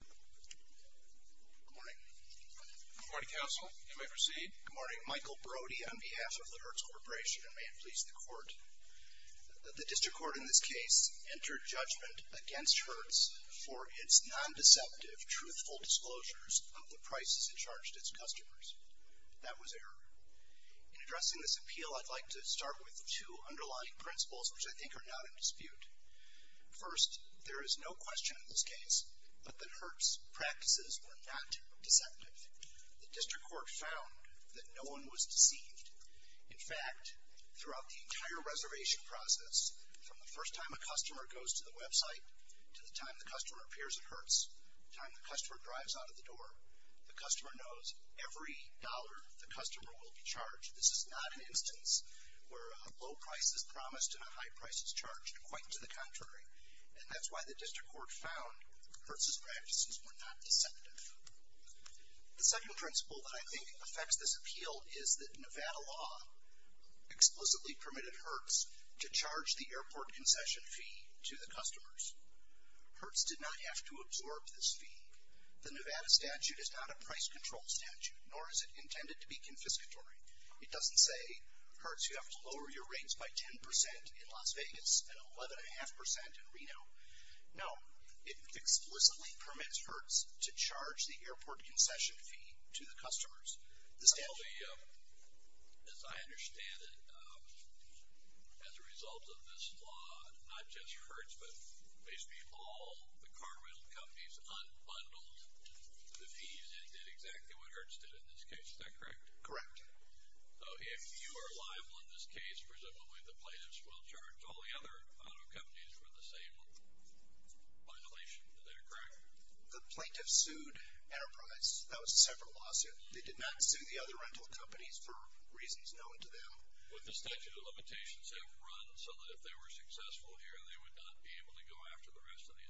Good morning. Good morning, Counsel. You may proceed. Good morning. Michael Brody on behalf of the Hertz Corp. and may it please the Court. The District Court in this case entered judgment against Hertz for its non-deceptive, truthful disclosures of the prices it charged its customers. That was error. In addressing this appeal, I'd like to start with two underlying principles, which I think are not in dispute. First, there is no question in this case that Hertz's practices were not deceptive. The District Court found that no one was deceived. In fact, throughout the entire reservation process, from the first time a customer goes to the website to the time the customer appears at Hertz, the time the customer drives out of the door, the customer knows every dollar the customer will be charged. This is not an instance where a low price is promised and a high price is charged. Quite to the contrary. And that's why the District Court found Hertz's practices were not deceptive. The second principle that I think affects this appeal is that Nevada law explicitly permitted Hertz to charge the airport concession fee to the customers. Hertz did not have to absorb this fee. The Nevada statute is not a price control statute, nor is it intended to be confiscatory. It doesn't say, Hertz, you have to lower your rates by 10% in Las Vegas and 11.5% in Reno. No, it explicitly permits Hertz to charge the airport concession fee to the customers. As I understand it, as a result of this law, not just Hertz, but basically all the car rental companies unbundled the fees and did exactly what Hertz did in this case. Is that correct? Correct. So if you are liable in this case, presumably the plaintiffs will charge, all the other auto companies with the same violation. Is that correct? The plaintiffs sued Enterprise. That was a separate lawsuit. They did not sue the other rental companies for reasons known to them. Would the statute of limitations have run so that if they were successful here, they would not be able to go after the rest of the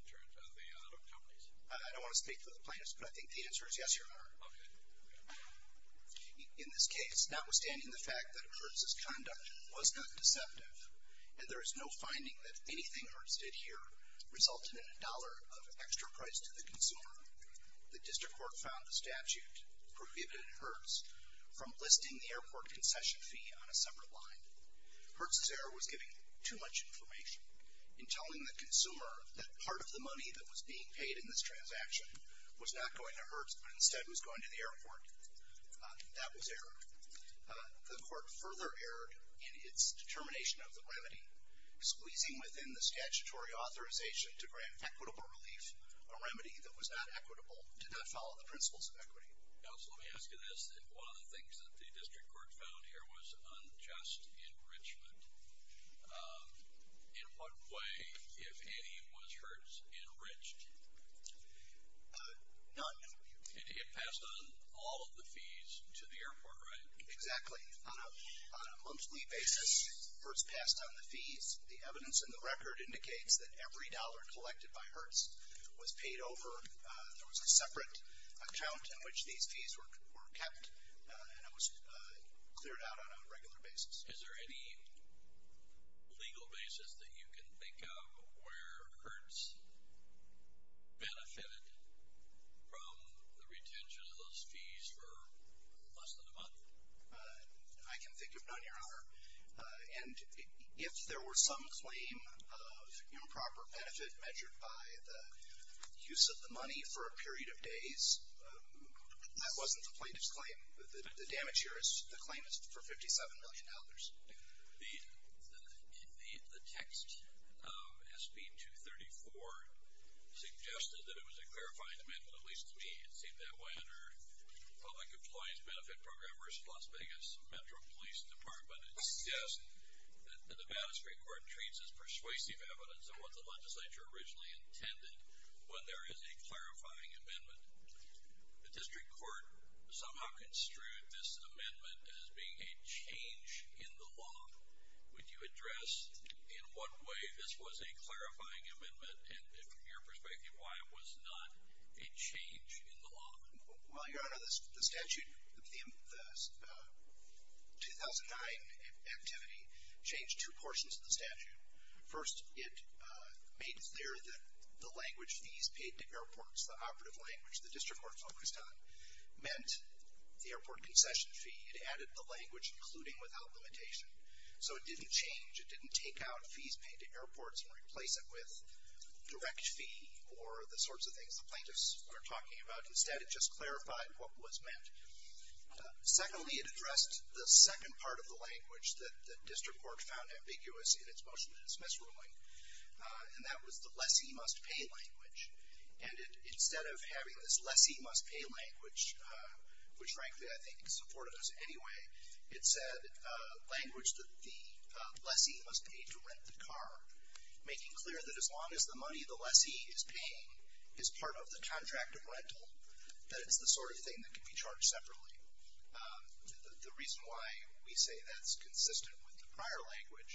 auto companies? I don't want to speak for the plaintiffs, but I think the answer is yes, Your Honor. Okay. In this case, notwithstanding the fact that Hertz's conduct was not deceptive, and there is no finding that anything Hertz did here resulted in a dollar of extra price to the consumer, the district court found the statute prohibited Hertz from listing the airport concession fee on a separate line. Hertz's error was giving too much information. In telling the consumer that part of the money that was being paid in this transaction was not going to Hertz, but instead was going to the airport, that was errored. The court further erred in its determination of the remedy, squeezing within the statutory authorization to grant equitable relief a remedy that was not equitable, did not follow the principles of equity. Counsel, let me ask you this. If one of the things that the district court found here was unjust enrichment, in what way, if any, was Hertz enriched? None. It passed on all of the fees to the airport, right? Exactly. On a monthly basis, Hertz passed on the fees. The evidence in the record indicates that every dollar collected by Hertz was paid over. There was a separate account in which these fees were kept, and it was cleared out on a regular basis. Is there any legal basis that you can think of where Hertz benefited from the retention of those fees for less than a month? And if there were some claim of improper benefit measured by the use of the money for a period of days, that wasn't the plaintiff's claim. The damage here is the claim is for $57 million. The text of SB 234 suggested that it was a clarifying amendment, at least to me. It seemed that way under Public Employees Benefit Program versus Las Vegas Metro Police Department. It suggests that the Nevada Street Court treats as persuasive evidence of what the legislature originally intended when there is a clarifying amendment. The district court somehow construed this amendment as being a change in the law. Would you address in what way this was a clarifying amendment, and from your perspective, why it was not a change in the law? Well, Your Honor, the statute, the 2009 activity changed two portions of the statute. First, it made clear that the language fees paid to airports, the operative language the district court focused on, meant the airport concession fee. It added the language including without limitation. So it didn't change. It didn't take out fees paid to airports and replace it with direct fee or the sorts of things the plaintiffs were talking about. Instead, it just clarified what was meant. Secondly, it addressed the second part of the language that the district court found ambiguous in its motion to dismiss ruling, and that was the lessee must pay language. And instead of having this lessee must pay language, which frankly I think supported us anyway, it said language that the lessee must pay to rent the car, making clear that as long as the money the lessee is paying is part of the contract of rental, that it's the sort of thing that can be charged separately. The reason why we say that's consistent with the prior language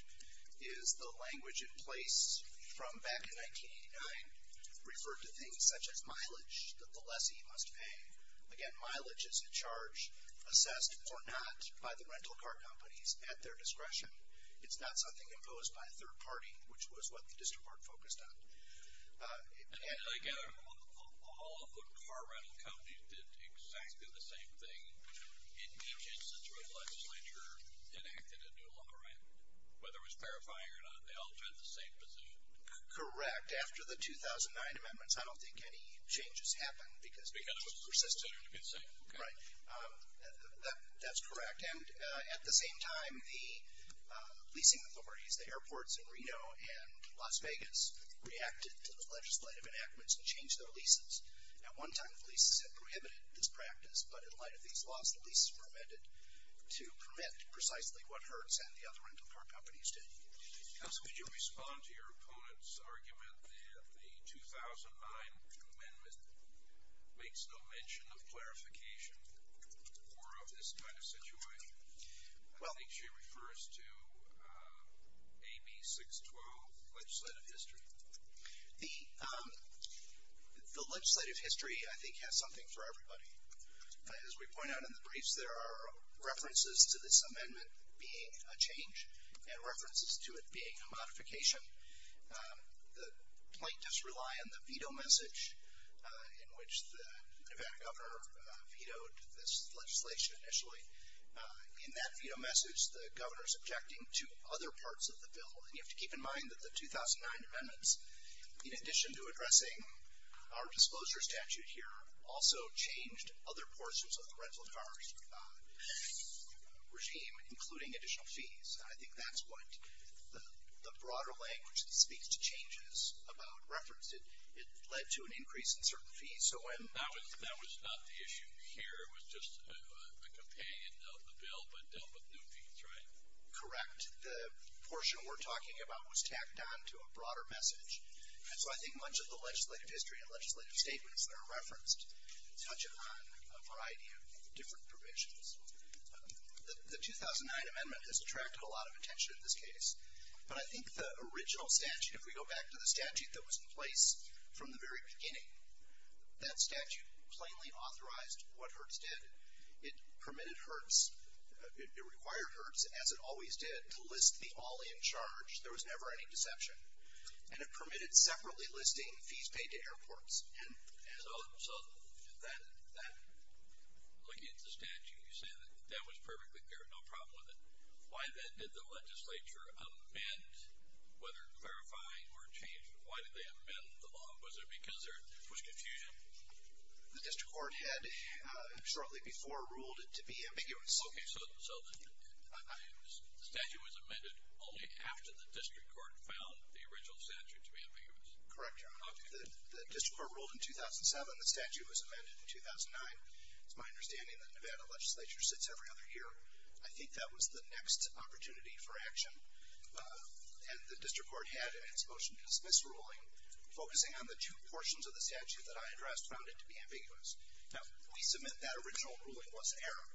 is the language in place from back in 1989 referred to things such as mileage that the lessee must pay. Again, mileage is a charge assessed or not by the rental car companies at their discretion. It's not something imposed by a third party, which was what the district court focused on. And again, all of the car rental companies did exactly the same thing. In each instance where the legislature enacted a new law, right, whether it was clarifying or not, they all did the same thing. Correct. After the 2009 amendments, I don't think any changes happened because it was consistent. Because it was consistent, you've been saying. Right. That's correct. And at the same time, the leasing authorities, the airports in Reno and Las Vegas, reacted to the legislative enactments and changed their leases. At one time, the leases had prohibited this practice, but in light of these laws, the leases were amended to permit precisely what Hertz and the other rental car companies did. Counsel, could you respond to your opponent's argument that the 2009 amendment makes no mention of clarification or of this kind of situation? I think she refers to AB 612, legislative history. The legislative history, I think, has something for everybody. As we point out in the briefs, there are references to this amendment being a change and references to it being a modification. The plaintiffs rely on the veto message in which the Nevada governor vetoed this legislation initially. In that veto message, the governor is objecting to other parts of the bill. And you have to keep in mind that the 2009 amendments, in addition to addressing our disclosure statute here, also changed other portions of the rental car regime, including additional fees. I think that's what the broader language that speaks to changes about reference. It led to an increase in certain fees. That was not the issue here. It was just a companion of the bill, but dealt with new fees, right? Correct. The portion we're talking about was tacked on to a broader message. And so I think much of the legislative history and legislative statements that are referenced touch upon a variety of different provisions. The 2009 amendment has attracted a lot of attention in this case. But I think the original statute, if we go back to the statute that was in place from the very beginning, that statute plainly authorized what Hertz did. It permitted Hertz, it required Hertz, as it always did, to list the all in charge. There was never any deception. And it permitted separately listing fees paid to airports. So looking at the statute, you say that was perfectly clear, no problem with it. Why then did the legislature amend, whether verifying or changing, why did they amend the law? Was it because there was confusion? The district court had, shortly before, ruled it to be ambiguous. Okay. So the statute was amended only after the district court found the original statute to be ambiguous. Correct, Your Honor. The district court ruled in 2007. The statute was amended in 2009. It's my understanding that Nevada legislature sits every other year. I think that was the next opportunity for action. And the district court had in its motion to dismiss ruling, focusing on the two portions of the statute that I addressed, found it to be ambiguous. Now, we submit that original ruling was error.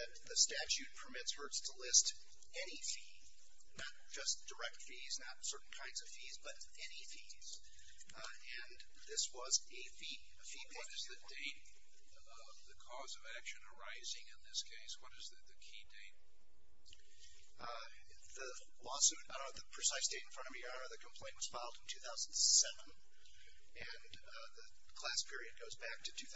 That the statute permits Hertz to list any fee, not just direct fees, not certain kinds of fees, but any fees. And this was a fee payment. What is the date of the cause of action arising in this case? What is the key date? The lawsuit, I don't have the precise date in front of me, Your Honor. The complaint was filed in 2007, and the class period goes back to 2003.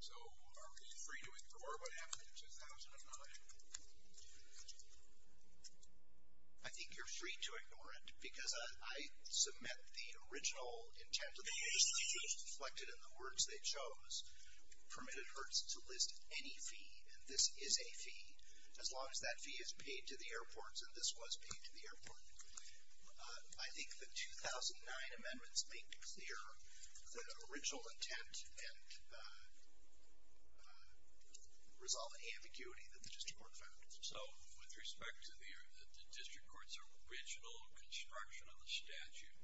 So are we free to ignore what happened in 2009? I think you're free to ignore it, because I submit the original intent of the motion, which is reflected in the words they chose, permitted Hertz to list any fee, and this is a fee, as long as that fee is paid to the airports, and this was paid to the airport. I think the 2009 amendments make clear the original intent, and resolve the ambiguity that the district court found. So, with respect to the district court's original construction of the statute,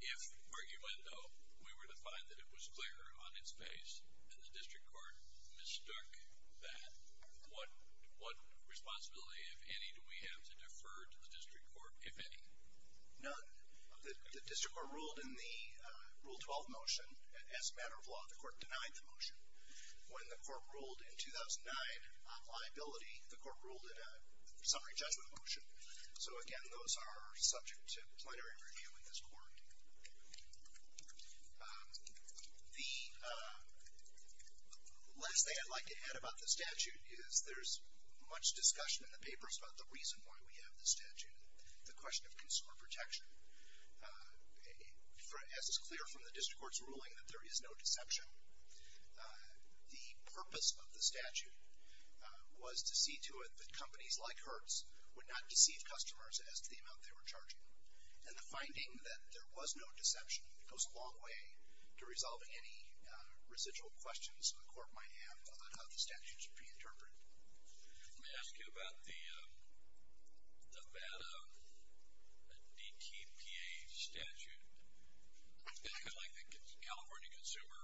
if, arguendo, we were to find that it was clear on its face, and the district court mistook that, what responsibility, if any, do we have to defer to the district court, if any? None. The district court ruled in the Rule 12 motion, as a matter of law, the court denied the motion. When the court ruled in 2009 on liability, the court ruled in a summary judgment motion. So again, those are subject to plenary review in this court. The last thing I'd like to add about the statute is, the question of consumer protection. As is clear from the district court's ruling, that there is no deception. The purpose of the statute was to see to it that companies like Hertz would not deceive customers as to the amount they were charging. And the finding that there was no deception goes a long way to resolving any residual questions the court might have about how the statute should be interpreted. Let me ask you about the Nevada DTPA statute. It's kind of like the California Consumer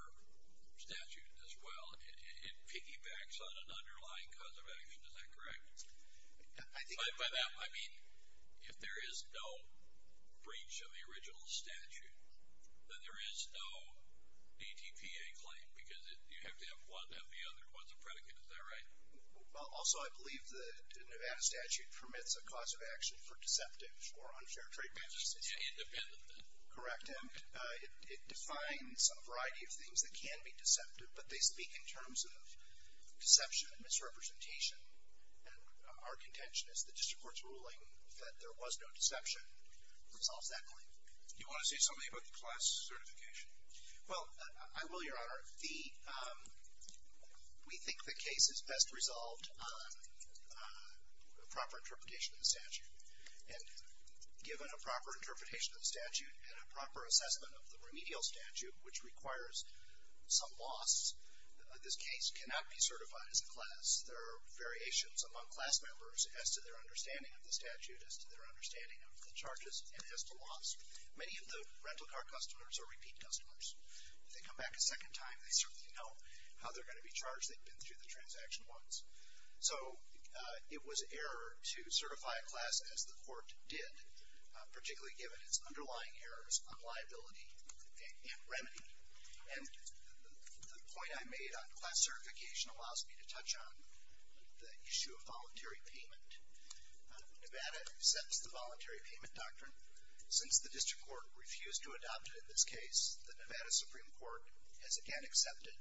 Statute as well. It piggybacks on an underlying cause of action, is that correct? By that, I mean, if there is no breach of the original statute, then there is no DTPA claim, because you have to have one and the other. What's a predicate, is that right? Also, I believe the Nevada statute permits a cause of action for deceptive or unfair trade practices. Independent then? Correct, and it defines a variety of things that can be deceptive, but they speak in terms of deception and misrepresentation. And our contention is the district court's ruling that there was no deception resolves that claim. Do you want to say something about the class certification? Well, I will, Your Honor. We think the case is best resolved on a proper interpretation of the statute. And given a proper interpretation of the statute and a proper assessment of the remedial statute, which requires some loss, this case cannot be certified as class. There are variations among class members as to their understanding of the statute, as to their understanding of the charges, and as to loss. Many of the rental car customers are repeat customers. If they come back a second time, they certainly know how they're going to be charged. They've been through the transaction once. So it was error to certify a class as the court did, particularly given its underlying errors on liability and remedy. And the point I made on class certification allows me to touch on the issue of voluntary payment. Nevada sets the voluntary payment doctrine. Since the district court refused to adopt it in this case, the Nevada Supreme Court has again accepted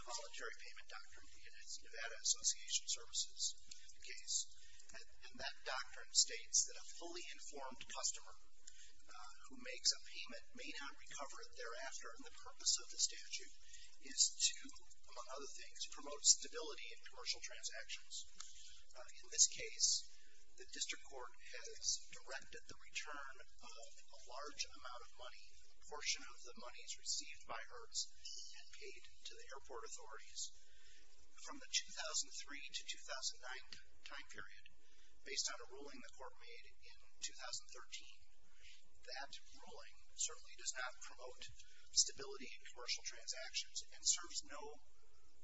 the voluntary payment doctrine in its Nevada Association Services case. And that doctrine states that a fully informed customer who makes a payment may not recover it thereafter, and the purpose of the statute is to, among other things, promote stability in commercial transactions. In this case, the district court has directed the return of a large amount of money, a portion of the monies received by Hertz, and paid to the airport authorities. From the 2003 to 2009 time period, based on a ruling the court made in 2013, that ruling certainly does not promote stability in commercial transactions and serves no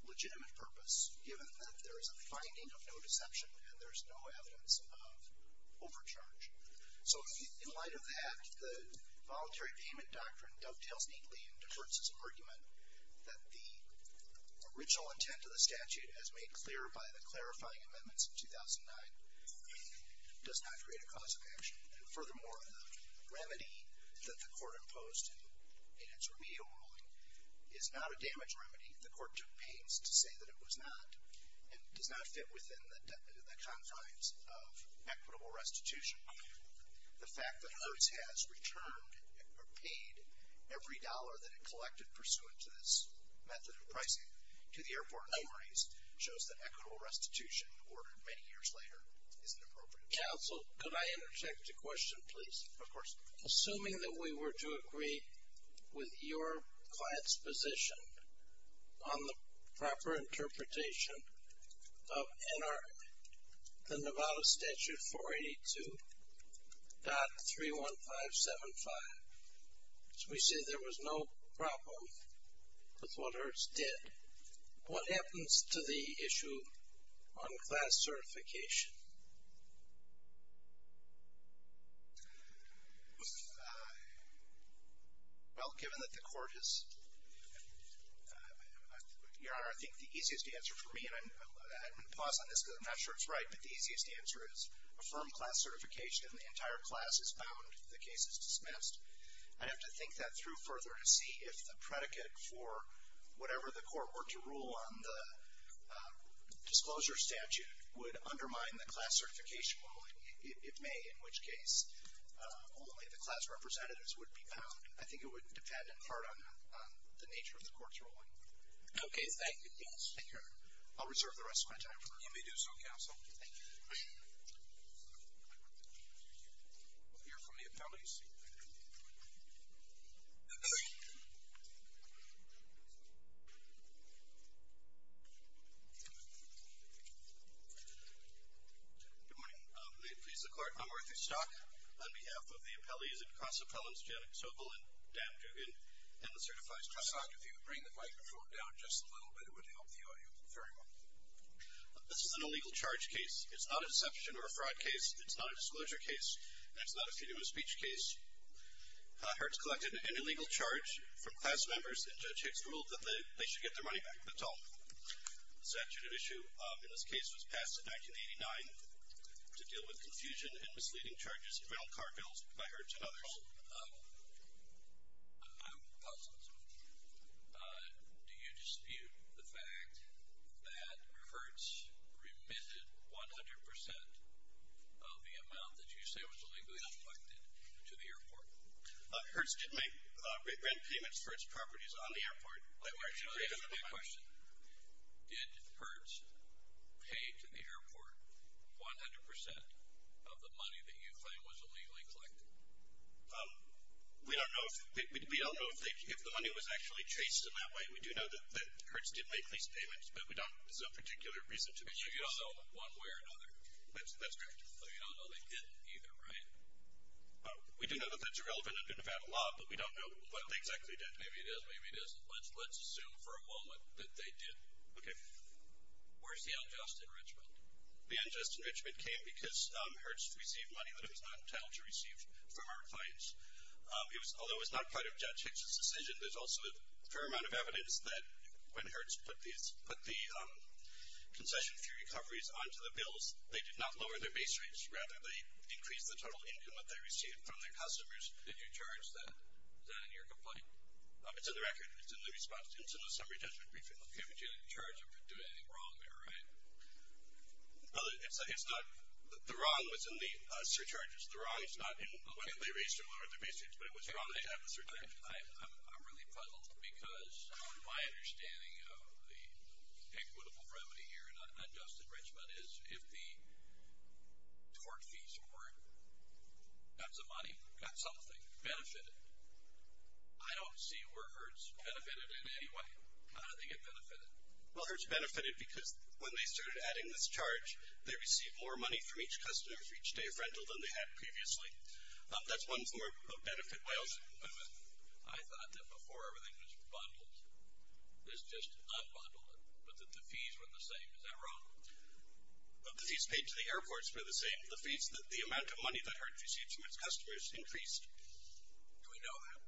legitimate purpose, given that there is a finding of no deception and there is no evidence of overcharge. So in light of that, the voluntary payment doctrine dovetails neatly into Hertz's argument that the original intent of the statute, as made clear by the clarifying amendments in 2009, does not create a cause of action. And furthermore, the remedy that the court imposed in its remedial ruling is not a damage remedy. The court took pains to say that it was not and does not fit within the confines of equitable restitution. The fact that Hertz has returned or paid every dollar that it collected pursuant to this method of pricing to the airport authorities shows that equitable restitution, ordered many years later, is inappropriate. Counsel, could I interject a question, please? Of course. Assuming that we were to agree with your client's position, on the proper interpretation of NRA, the Nevada Statute 482.31575, which we see there was no problem with what Hertz did, what happens to the issue on class certification? Well, given that the court has... Your Honor, I think the easiest answer for me, and I'm going to pause on this because I'm not sure it's right, but the easiest answer is affirm class certification and the entire class is bound if the case is dismissed. I'd have to think that through further to see if the predicate for whatever the court were to rule on the disclosure statute would undermine the class certification ruling. It may, in which case, only the class representatives would be bound. I think it would depend in part on the nature of the court's ruling. Okay, thank you. Yes. I'll reserve the rest of my time for... You may do so, counsel. Thank you. We'll hear from the appellees. Good morning. May it please the court, I'm Arthur Stock. On behalf of the appellees and class appellants Janet Sobel and Dan Dugan, and the certified class... If you could bring the microphone down just a little bit, it would help the audience. Very well. This is an illegal charge case. It's not a deception or a fraud case. It's not a disclosure case, and it's not a freedom of speech case. Hertz collected an illegal charge from class members, and Judge Hicks ruled that they should get their money back. That's all. The statute of issue in this case was passed in 1989 to deal with confusion and misleading charges in rental car bills by Hertz and others. I'm puzzled. Do you dispute the fact that Hertz remitted 100% of the amount that you say was illegally collected to the airport? Hertz did make rent payments for its properties on the airport. Let me ask you a question. Did Hertz pay to the airport 100% of the money that you claim was illegally collected? We don't know if the money was actually traced in that way. We do know that Hertz did make these payments, but we don't have a particular reason to believe so. So you don't know one way or another? That's correct. So you don't know they didn't either, right? We do know that that's irrelevant under Nevada law, but we don't know what they exactly did. Maybe it is, maybe it isn't. Let's assume for a moment that they did. Okay. Where's the unjust enrichment? The unjust enrichment came because Hertz received money that it was not entitled to receive from our clients. Although it was not part of Judge Hicks' decision, there's also a fair amount of evidence that when Hertz put the concession fee recoveries onto the bills, they did not lower their base rates. Rather, they increased the total income that they received from their customers. Did you charge that? Is that in your complaint? It's in the record. It's in the response to incidental summary judgment briefing. Okay, but you didn't charge them for doing anything wrong there, right? No, it's not. The wrong was in the surcharges. The wrong is not in whether they raised or lowered their base rates, but it was wrong to have a surcharge. I'm really puzzled because my understanding of the equitable remedy here in unjust enrichment is if the tort fees were got some money, got something, benefited. I don't see where Hertz benefited in any way. How did they get benefited? Well, Hertz benefited because when they started adding this charge, they received more money from each customer for each day of rental than they had previously. That's one form of benefit. I thought that before everything was bundled. This just unbundled it, but that the fees were the same. Is that wrong? The fees paid to the airports were the same. The fees that the amount of money that Hertz received from its customers increased. Do we know that?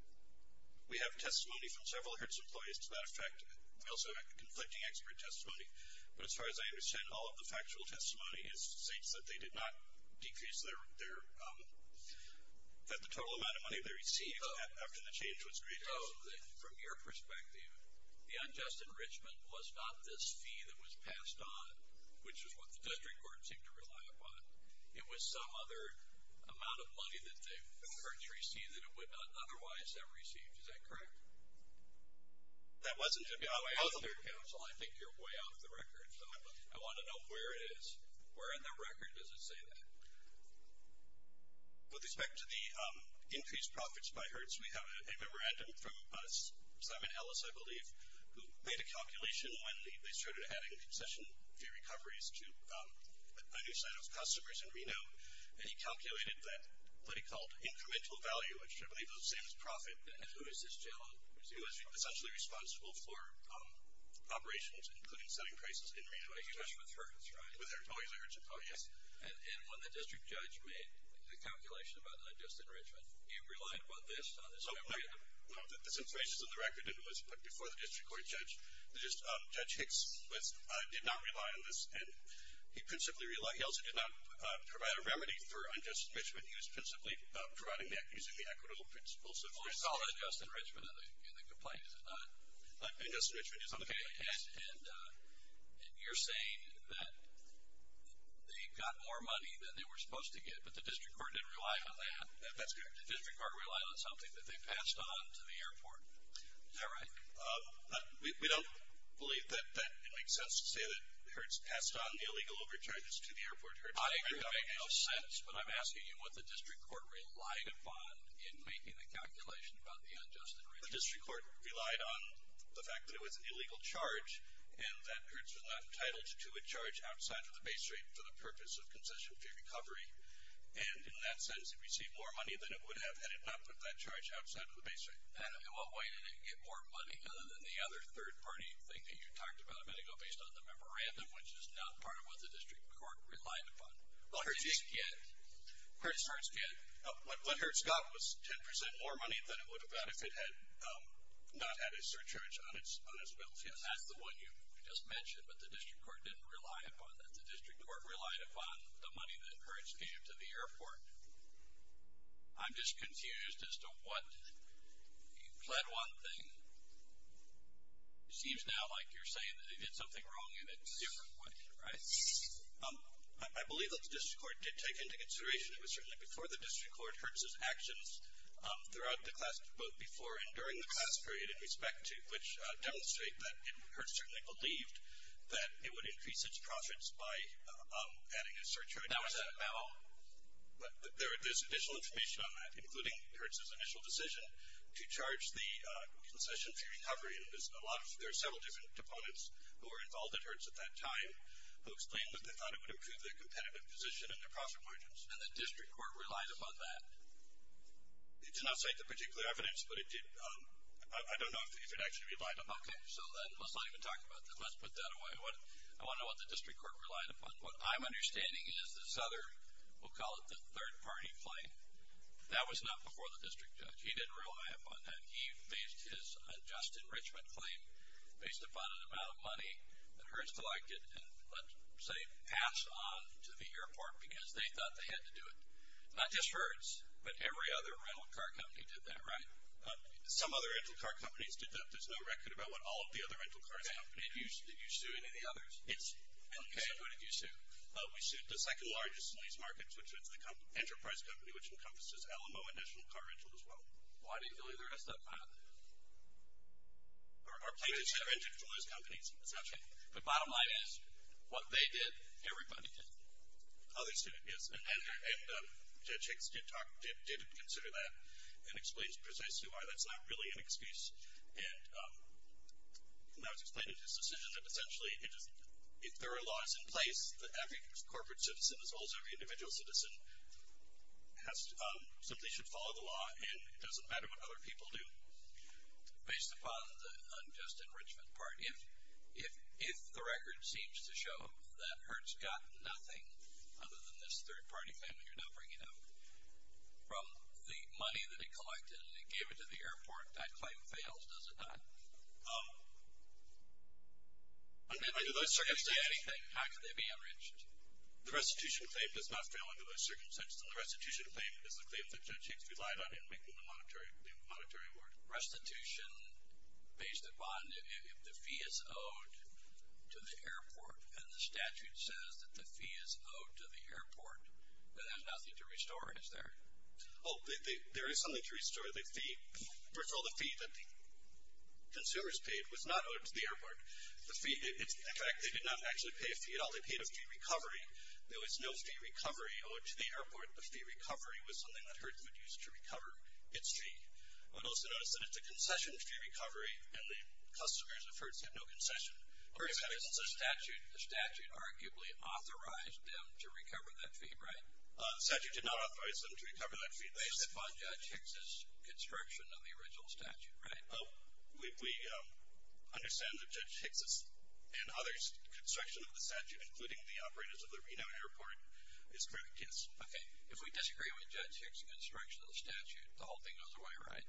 We have testimony from several Hertz employees to that effect. We also have conflicting expert testimony. But as far as I understand, all of the factual testimony states that they did not decrease their, that the total amount of money they received after the change was created. From your perspective, the unjust enrichment was not this fee that was created. It was some other amount of money that Hertz received that it would not otherwise have received. Is that correct? That wasn't. I think you're way off the record. I want to know where it is. Where in the record does it say that? With respect to the increased profits by Hertz, we have a memorandum from Simon Ellis, I believe, who made a calculation when they started adding concession fee recoveries to a new set of customers in Reno. And he calculated that what he called incremental value, which I believe is the same as profit. And who is this gentleman? He was essentially responsible for operations, including selling prices in Reno. Especially with Hertz, right? With Hertz. Oh, yes. And when the district judge made the calculation about the unjust enrichment, you relied on this on this memorandum? This information is in the record and was put before the district court judge. Judge Hicks did not rely on this, and he principally relied. He also did not provide a remedy for unjust enrichment. He was principally providing that using the equitable principle. Well, we saw unjust enrichment in the complaint, is it not? Unjust enrichment is on the case. And you're saying that they got more money than they were supposed to get, but the district court didn't rely on that. That's correct. The district court relied on something that they passed on to the airport. Is that right? We don't believe that it makes sense to say that Hertz passed on the illegal overcharges to the airport. I agree it makes no sense, but I'm asking you what the district court relied upon in making the calculation about the unjust enrichment. The district court relied on the fact that it was an illegal charge and that Hertz was not entitled to a charge outside of the base rate for the purpose of concession fee recovery. And in that sense, it received more money than it would have had it not put that charge outside of the base rate. And in what way did it get more money other than the other third-party thing that you talked about a minute ago based on the memorandum, which is not part of what the district court relied upon? Well, Hertz did. Hertz did. What Hertz got was 10% more money than it would have got if it had not had a surcharge on its bills, yes. That's the one you just mentioned, but the district court didn't rely upon that. The district court relied upon the money that Hertz gave to the airport. I'm just confused as to what you pled one thing. It seems now like you're saying that he did something wrong in a different way, right? I believe that the district court did take into consideration, it was certainly before the district court, Hertz's actions throughout both before and during the class period in respect to, which demonstrate that Hertz certainly believed that it would increase its profits by adding a surcharge. How is that at all? There's additional information on that, including Hertz's initial decision to charge the concession fee recovery. There are several different opponents who were involved at Hertz at that time who explained that they thought it would improve their competitive position and their profit margins. And the district court relied upon that? It did not cite the particular evidence, but it did. I don't know if it actually relied upon that. Okay, so let's not even talk about that. Let's put that away. I want to know what the district court relied upon. What I'm understanding is this other, we'll call it the third-party claim, that was not before the district judge. He didn't rely upon that. He based his adjusted enrichment claim based upon an amount of money that Hertz collected and let, say, pass on to the airport because they thought they had to do it. Not just Hertz, but every other rental car company did that, right? Some other rental car companies did that. There's no record about what all of the other rental cars did. Did you sue any of the others? What did you sue? We sued the second-largest in these markets, which is the Enterprise Company, which encompasses Alamo and National Car Rental as well. Why didn't you do any of the rest of them? Our plaintiffs are individualized companies, essentially. But bottom line is, what they did, everybody did. Oh, they sued it, yes. And Judge Hicks did talk, did consider that and explains precisely why. That's not really an excuse. And that was explained in his decision that, essentially, if there are laws in place that every corporate citizen as well as every individual citizen simply should follow the law and it doesn't matter what other people do. Based upon the unjust enrichment part, if the record seems to show that Hertz got nothing other than this third-party claim that you're now bringing up from the money that it has, does it not? Under those circumstances, how could they be enriched? The restitution claim does not fail under those circumstances. And the restitution claim is the claim that Judge Hicks relied on in making the monetary award. Restitution pays the bond if the fee is owed to the airport. And the statute says that the fee is owed to the airport, but there's nothing to restore, is there? Oh, there is something to restore. First of all, the fee that the consumers paid was not owed to the airport. In fact, they did not actually pay a fee at all. They paid a fee recovery. There was no fee recovery owed to the airport. The fee recovery was something that Hertz would use to recover its fee. But also notice that it's a concession fee recovery, and the customers of Hertz get no concession. The statute arguably authorized them to recover that fee, right? The statute did not authorize them to recover that fee. Based upon Judge Hicks' construction of the original statute, right? We understand that Judge Hicks' and others' construction of the statute, including the operators of the Reno Airport, is correct, yes. If we disagree with Judge Hicks' construction of the statute, the whole thing goes away, right?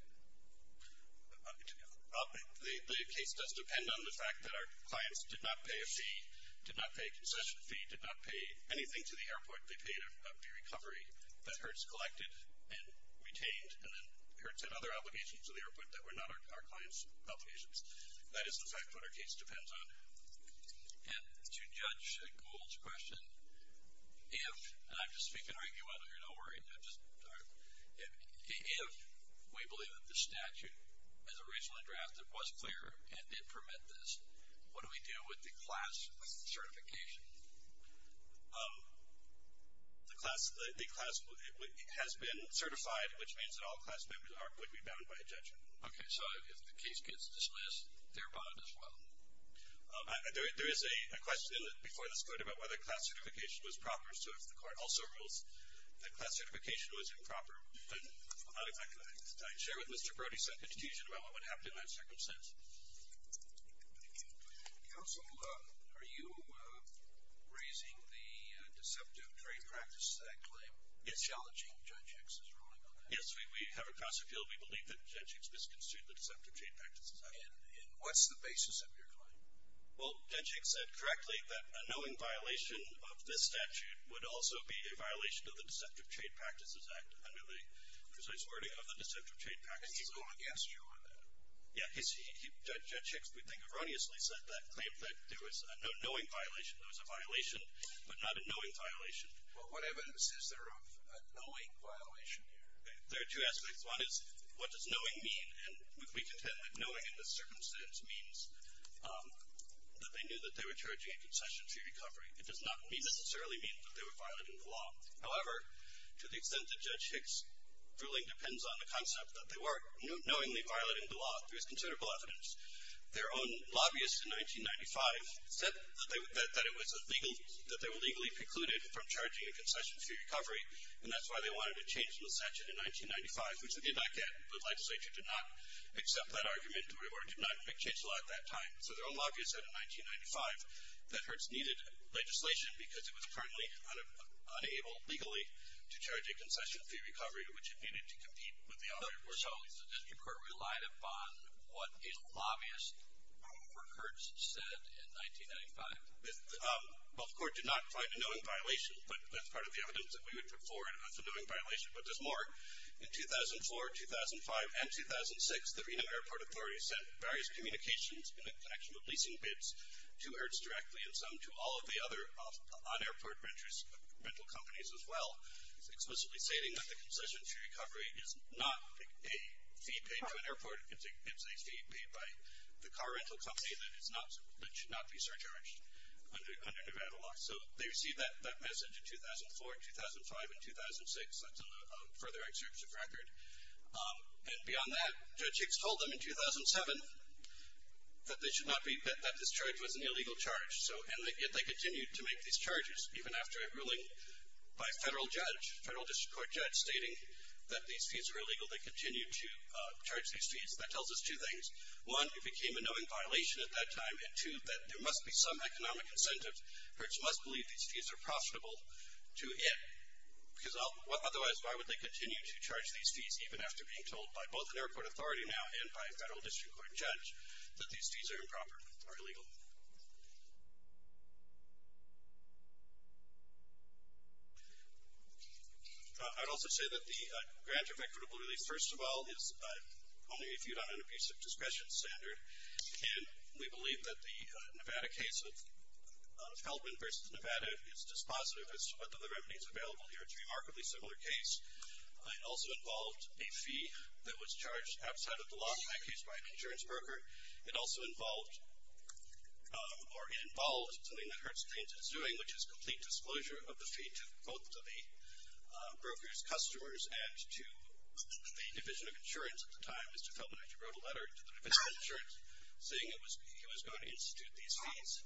The case does depend on the fact that our clients did not pay a fee, or they paid a fee recovery that Hertz collected and retained, and then Hertz had other obligations to the airport that were not our clients' obligations. That is the fact that our case depends on. And to Judge Gould's question, if, and I'm just speaking arguably, you're not worried, I'm just, if we believe that the statute, as originally drafted, was clear and did permit this, what do we do with the class certification? The class, the class has been certified, which means that all class members are going to be bound by injunction. Okay, so if the case gets dismissed, they're bound as well? There is a question before this court about whether class certification was proper, so if the court also rules that class certification was improper, then I'd like to share with Mr. Brody some information about what happened in that circumstance. Counsel, are you raising the Deceptive Trade Practices Act claim? It's challenging. Judge Hicks is ruling on that. Yes, we have a class appeal. We believe that Judge Hicks misconstrued the Deceptive Trade Practices Act. And what's the basis of your claim? Well, Judge Hicks said correctly that a knowing violation of this statute would also be a violation of the Deceptive Trade Practices Act, under the precise wording of the Deceptive Trade Practices Act. And he's going against you on that? Yeah, Judge Hicks, we think, erroneously said that claim, that there was a knowing violation. There was a violation, but not a knowing violation. Well, what evidence is there of a knowing violation here? There are two aspects. One is, what does knowing mean? And we contend that knowing in this circumstance means that they knew that they were charging a concession to recovery. It does not necessarily mean that they were violating the law. However, to the extent that Judge Hicks' ruling depends on the concept that they were knowingly violating the law, there's considerable evidence. Their own lobbyists in 1995 said that they were legally precluded from charging a concession for recovery, and that's why they wanted to change the statute in 1995, which they did not get. The legislature did not accept that argument, or did not make change to law at that time. So their own lobbyists said in 1995 that Hertz needed legislation because it was currently unable, legally, to charge a concession for your recovery, which it needed to compete with the other versions. So the district court relied upon what a lobbyist, Robert Hertz, said in 1995. Both courts did not find a knowing violation, but that's part of the evidence that we would put forward as a knowing violation. But there's more. In 2004, 2005, and 2006, the Reno Airport Authority sent various communications in connection with leasing bids to Hertz directly, and some to all of the other on-airport rental companies as well, explicitly stating that the concession for recovery is not a fee paid to an airport. It's a fee paid by the car rental company that should not be surcharged under Nevada law. So they received that message in 2004, 2005, and 2006. That's a further excerpt of record. And beyond that, Judge Hicks told them in 2007 that this charge was an illegal charge, and yet they continued to make these charges, even after a ruling by a federal judge, a federal district court judge, stating that these fees are illegal. They continued to charge these fees. That tells us two things. One, it became a knowing violation at that time, and two, that there must be some economic incentive. Hertz must believe these fees are profitable to it, because otherwise why would they continue to charge these fees, even after being told by both the airport authority now and by a federal district court judge that these fees are improper, are illegal. I'd also say that the grant of equitable release, first of all, is only viewed on an abusive discretion standard, and we believe that the Nevada case of Feldman versus Nevada is dispositive as to whether the remedy is available here. It's a remarkably similar case. It also involved a fee that was charged outside of the law, which was in fact used by an insurance broker. It also involved or involved something that Hertz claims it's doing, which is complete disclosure of the fee to both of the broker's customers and to the division of insurance at the time. Mr. Feldman actually wrote a letter to the division of insurance, saying he was going to institute these fees,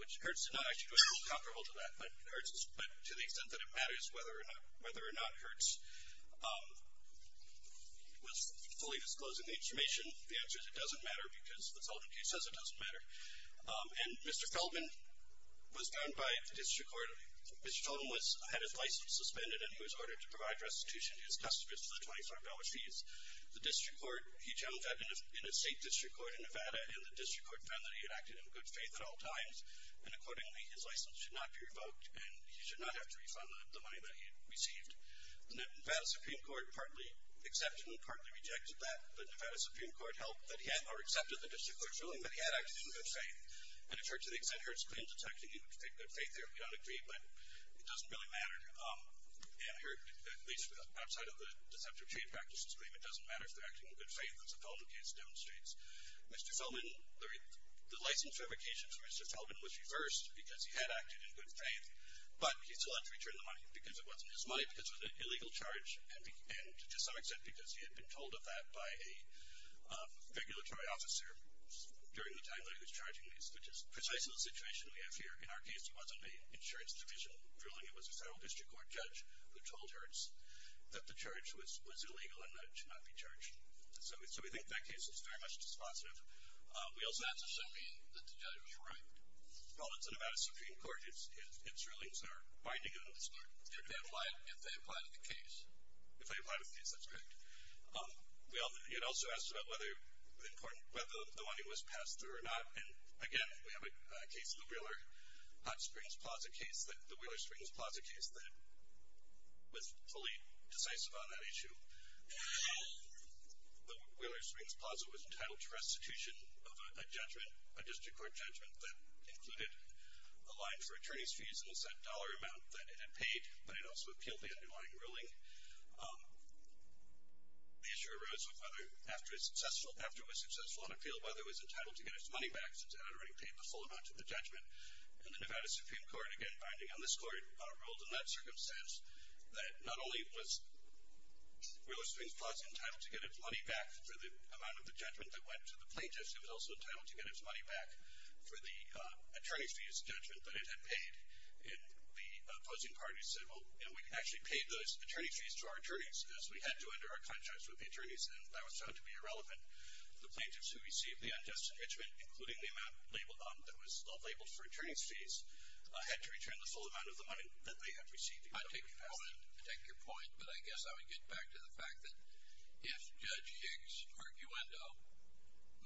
which Hertz did not actually do. He wasn't comparable to that. But to the extent that it matters whether or not Hertz was fully disclosing the information, the answer is it doesn't matter because the Feldman case says it doesn't matter. And Mr. Feldman was found by the district court. Mr. Feldman had his license suspended, and he was ordered to provide restitution to his customers for the $25 fees. The district court, he found that in a state district court in Nevada, and the district court found that he had acted in good faith at all times, and accordingly his license should not be revoked and he should not have to refund the money that he had received. The Nevada Supreme Court partly accepted and partly rejected that, but the Nevada Supreme Court held that he had, or accepted the district court's ruling, that he had acted in good faith. And it's hard to the extent Hertz claimed to have taken good faith there. We don't agree, but it doesn't really matter. Here, at least outside of the deceptive trade practices claim, it doesn't matter if they're acting in good faith, as the Feldman case demonstrates. Mr. Feldman, the license revocation for Mr. Feldman was reversed because he had acted in good faith, but he still had to return the money because it wasn't his money, because it was an illegal charge, and to some extent because he had been told of that by a regulatory officer during the time that he was charging these, which is precisely the situation we have here. In our case, it wasn't an insurance division ruling. It was a federal district court judge who told Hertz that the charge was illegal and that it should not be charged. So we think that case is very much dispositive. We also have to assume, then, that the judge was right. Well, it's the Nevada Supreme Court. Its rulings are binding on this part. They're going to apply it if they apply to the case. If they apply to the case, that's correct. It also asks about whether the money was passed through or not, and again, we have a case, the Wheeler Hot Springs Plaza case, the Wheeler Springs Plaza case that was fully decisive on that issue. The Wheeler Springs Plaza was entitled to restitution of a judgment, a district court judgment that included a line for attorney's fees and was that dollar amount that it had paid, but it also appealed the underlying ruling. The issue arose after it was successful on appeal, whether it was entitled to get its money back since it had already paid the full amount of the judgment, and the Nevada Supreme Court, again, binding on this court, ruled in that circumstance that not only was Wheeler Springs Plaza entitled to get its money back for the amount of the judgment that went to the plaintiff, it was also entitled to get its money back for the attorney's fees judgment that it had paid, and the opposing parties said, well, we can actually pay those attorney's fees to our attorneys, as we had to under our contracts with the attorneys, and that was found to be irrelevant. The plaintiffs who received the unjust enrichment, including the amount labeled on them that was still labeled for attorney's fees, had to return the full amount of the money that they had received. I take your point, but I guess I would get back to the fact that if Judge Hicks' arguendo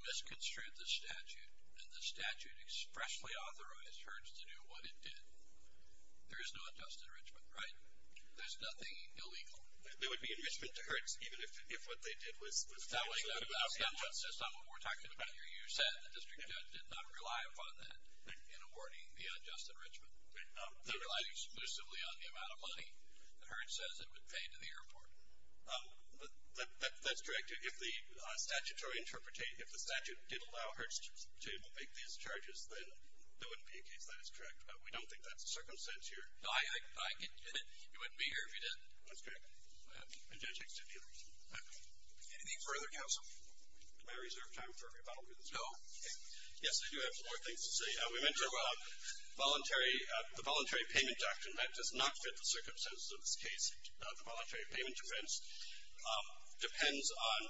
misconstrued the statute, and the statute expressly authorized Hertz to do what it did, there is no unjust enrichment, right? There's nothing illegal. There would be enrichment to Hertz, even if what they did was absolutely illegal. That's not what we're talking about here. You said the district judge did not rely upon that in awarding the unjust enrichment. They relied exclusively on the amount of money that Hertz says it would pay to the airport. That's correct. If the statute did allow Hertz to make these charges, then there wouldn't be a case that is correct. But we don't think that's the circumstance here. No, I can get it. You wouldn't be here if you didn't. That's correct. And Judge Hicks didn't either. Anything further, counsel? Do I reserve time for rebuttals? No. Yes, I do have some more things to say. We mentioned the voluntary payment doctrine. That does not fit the circumstances of this case. The voluntary payment defense depends on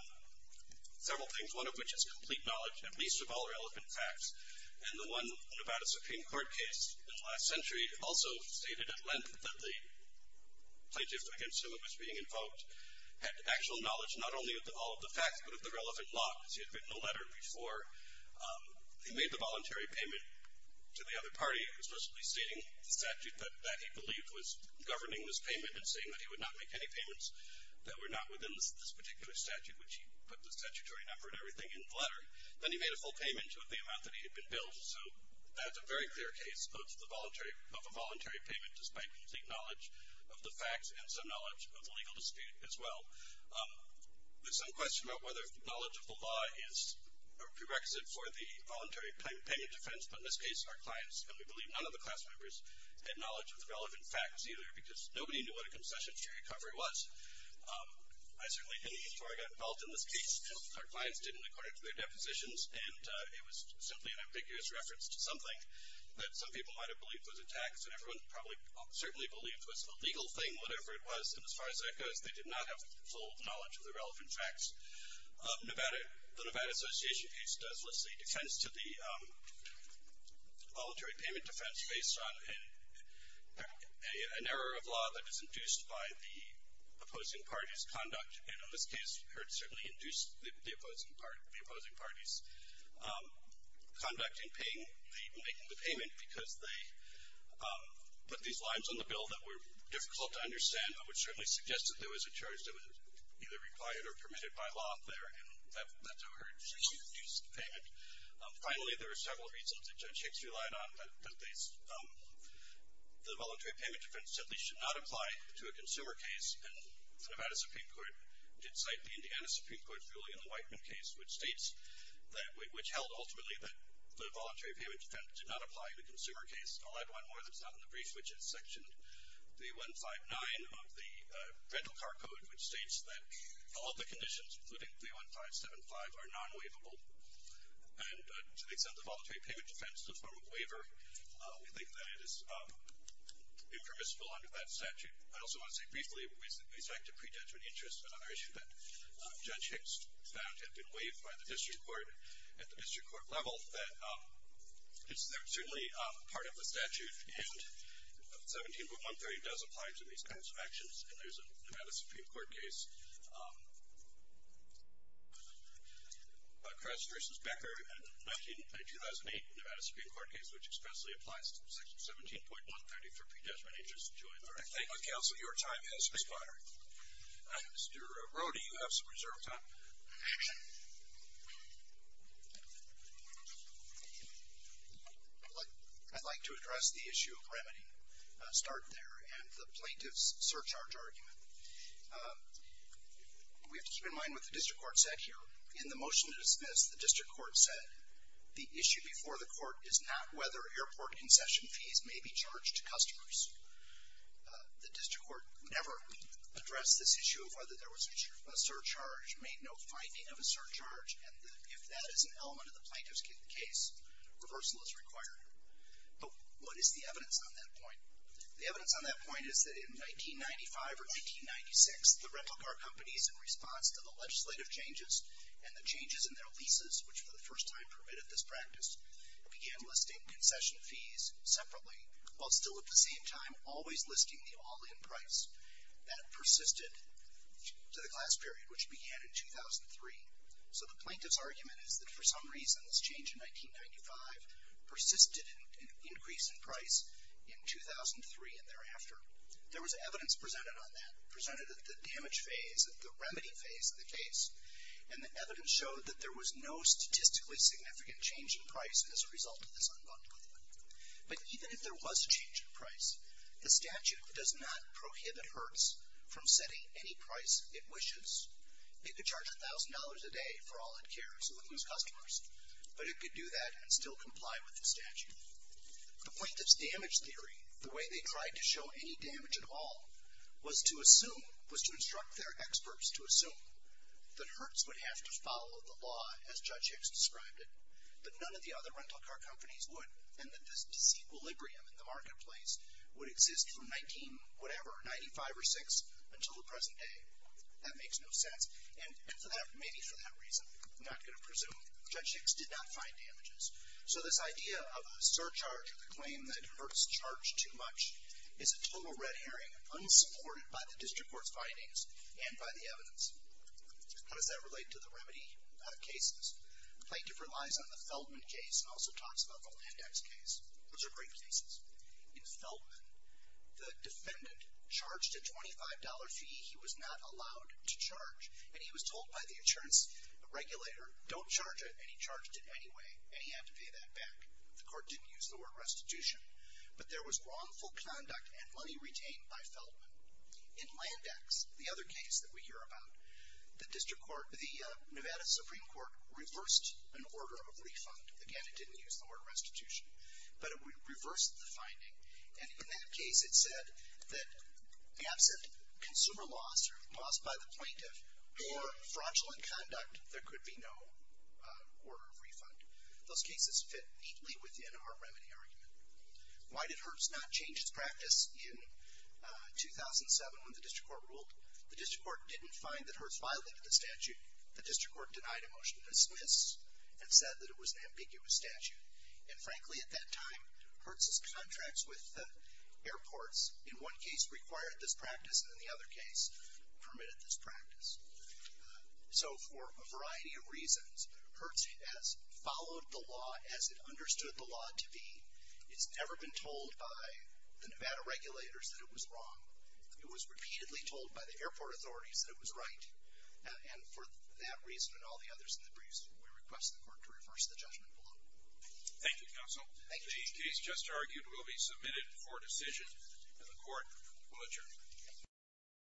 several things, one of which is complete knowledge at least of all relevant facts. And the one about a Supreme Court case in the last century also stated at length that the plaintiff against whom it was being invoked had actual knowledge not only of all of the facts but of the relevant locks. He had written a letter before he made the voluntary payment to the other party, explicitly stating the statute that he believed was governing this payment and saying that he would not make any payments that were not within this particular statute, which he put the statutory number and everything in the letter. Then he made a full payment of the amount that he had been billed. So that's a very clear case of a voluntary payment despite complete knowledge of the facts and some knowledge of the legal dispute as well. There's some question about whether knowledge of the law is a prerequisite for the voluntary payment defense. But in this case, our clients, and we believe none of the class members, had knowledge of the relevant facts either because nobody knew what a concession-free recovery was. I certainly didn't before I got involved in this case. Our clients didn't according to their depositions. And it was simply an ambiguous reference to something that some people might have believed was a tax and everyone probably certainly believed was a legal thing, whatever it was. And as far as that goes, they did not have full knowledge of the relevant facts. The Nevada Association case does list a defense to the voluntary payment defense based on an error of law that is induced by the opposing party's conduct. And in this case, it certainly induced the opposing party's conduct in making the payment because they put these lines on the bill that were difficult to understand which certainly suggested there was a charge that was either required or permitted by law there. And that's how it was induced the payment. Finally, there are several reasons that Judge Hicks relied on. The voluntary payment defense simply should not apply to a consumer case. And the Nevada Supreme Court did cite the Indiana Supreme Court's ruling in the Whiteman case which held ultimately that the voluntary payment defense did not apply to a consumer case. I'll add one more that's not in the brief which is section 3159 of the rental car code which states that all the conditions, including 31575, are non-waivable. And to the extent the voluntary payment defense is a form of waiver, we think that it is impermissible under that statute. I also want to say briefly with respect to pre-judgment interest, another issue that Judge Hicks found had been waived by the district court at the district court level, that it's certainly part of the statute and 17.130 does apply to these kinds of actions. And there's a Nevada Supreme Court case, Crest v. Becker in a 2008 Nevada Supreme Court case which expressly applies to section 17.130 for pre-judgment interest. I thank the counsel. Your time has expired. Mr. Rode, you have some reserve time. Action. I'd like to address the issue of remedy, start there, and the plaintiff's surcharge argument. We have to keep in mind what the district court said here. In the motion to dismiss, the district court said, the issue before the court is not whether airport concession fees may be charged to customers. The district court never addressed this issue of whether there was a surcharge, made no finding of a surcharge, and if that is an element of the plaintiff's case, reversal is required. But what is the evidence on that point? The evidence on that point is that in 1995 or 1996, the rental car companies, in response to the legislative changes and the changes in their leases, which for the first time permitted this practice, began listing concession fees separately, while still at the same time always listing the all-in price. That persisted to the class period, which began in 2003. So the plaintiff's argument is that for some reason this change in 1995 persisted in an increase in price in 2003 and thereafter. There was evidence presented on that, presented at the damage phase, at the remedy phase of the case, and the evidence showed that there was no statistically significant change in price as a result of this unbundling. But even if there was a change in price, the statute does not prohibit Hertz from setting any price it wishes. It could charge $1,000 a day for all-in care so it would lose customers, but it could do that and still comply with the statute. The plaintiff's damage theory, the way they tried to show any damage at all, was to assume, was to instruct their experts to assume that Hertz would have to follow the law as Judge Hicks described it, that none of the other rental car companies would, and that this disequilibrium in the marketplace would exist from 19-whatever, 95 or 6, until the present day. That makes no sense, and maybe for that reason, I'm not going to presume, Judge Hicks did not find damages. So this idea of a surcharge or the claim that Hertz charged too much and by the evidence. How does that relate to the remedy cases? The plaintiff relies on the Feldman case and also talks about the Landax case. Those are great cases. In Feldman, the defendant charged a $25 fee he was not allowed to charge, and he was told by the insurance regulator, don't charge it, and he charged it anyway, and he had to pay that back. The court didn't use the word restitution. But there was wrongful conduct and money retained by Feldman. In Landax, the other case that we hear about, the Nevada Supreme Court reversed an order of refund. Again, it didn't use the word restitution. But it reversed the finding, and in that case, it said that absent consumer loss or loss by the plaintiff or fraudulent conduct, there could be no order of refund. Those cases fit neatly within our remedy argument. Why did Hertz not change its practice in 2007 when the district court ruled? The district court didn't find that Hertz violated the statute. The district court denied a motion to dismiss and said that it was an ambiguous statute. And frankly, at that time, Hertz's contracts with airports, in one case required this practice and in the other case permitted this practice. So for a variety of reasons, Hertz has followed the law as it understood the law to be. It's never been told by the Nevada regulators that it was wrong. It was repeatedly told by the airport authorities that it was right. And for that reason and all the others in the briefs, we request the court to reverse the judgment below. Thank you, counsel. Thank you. The case just argued will be submitted for decision, and the court will adjourn.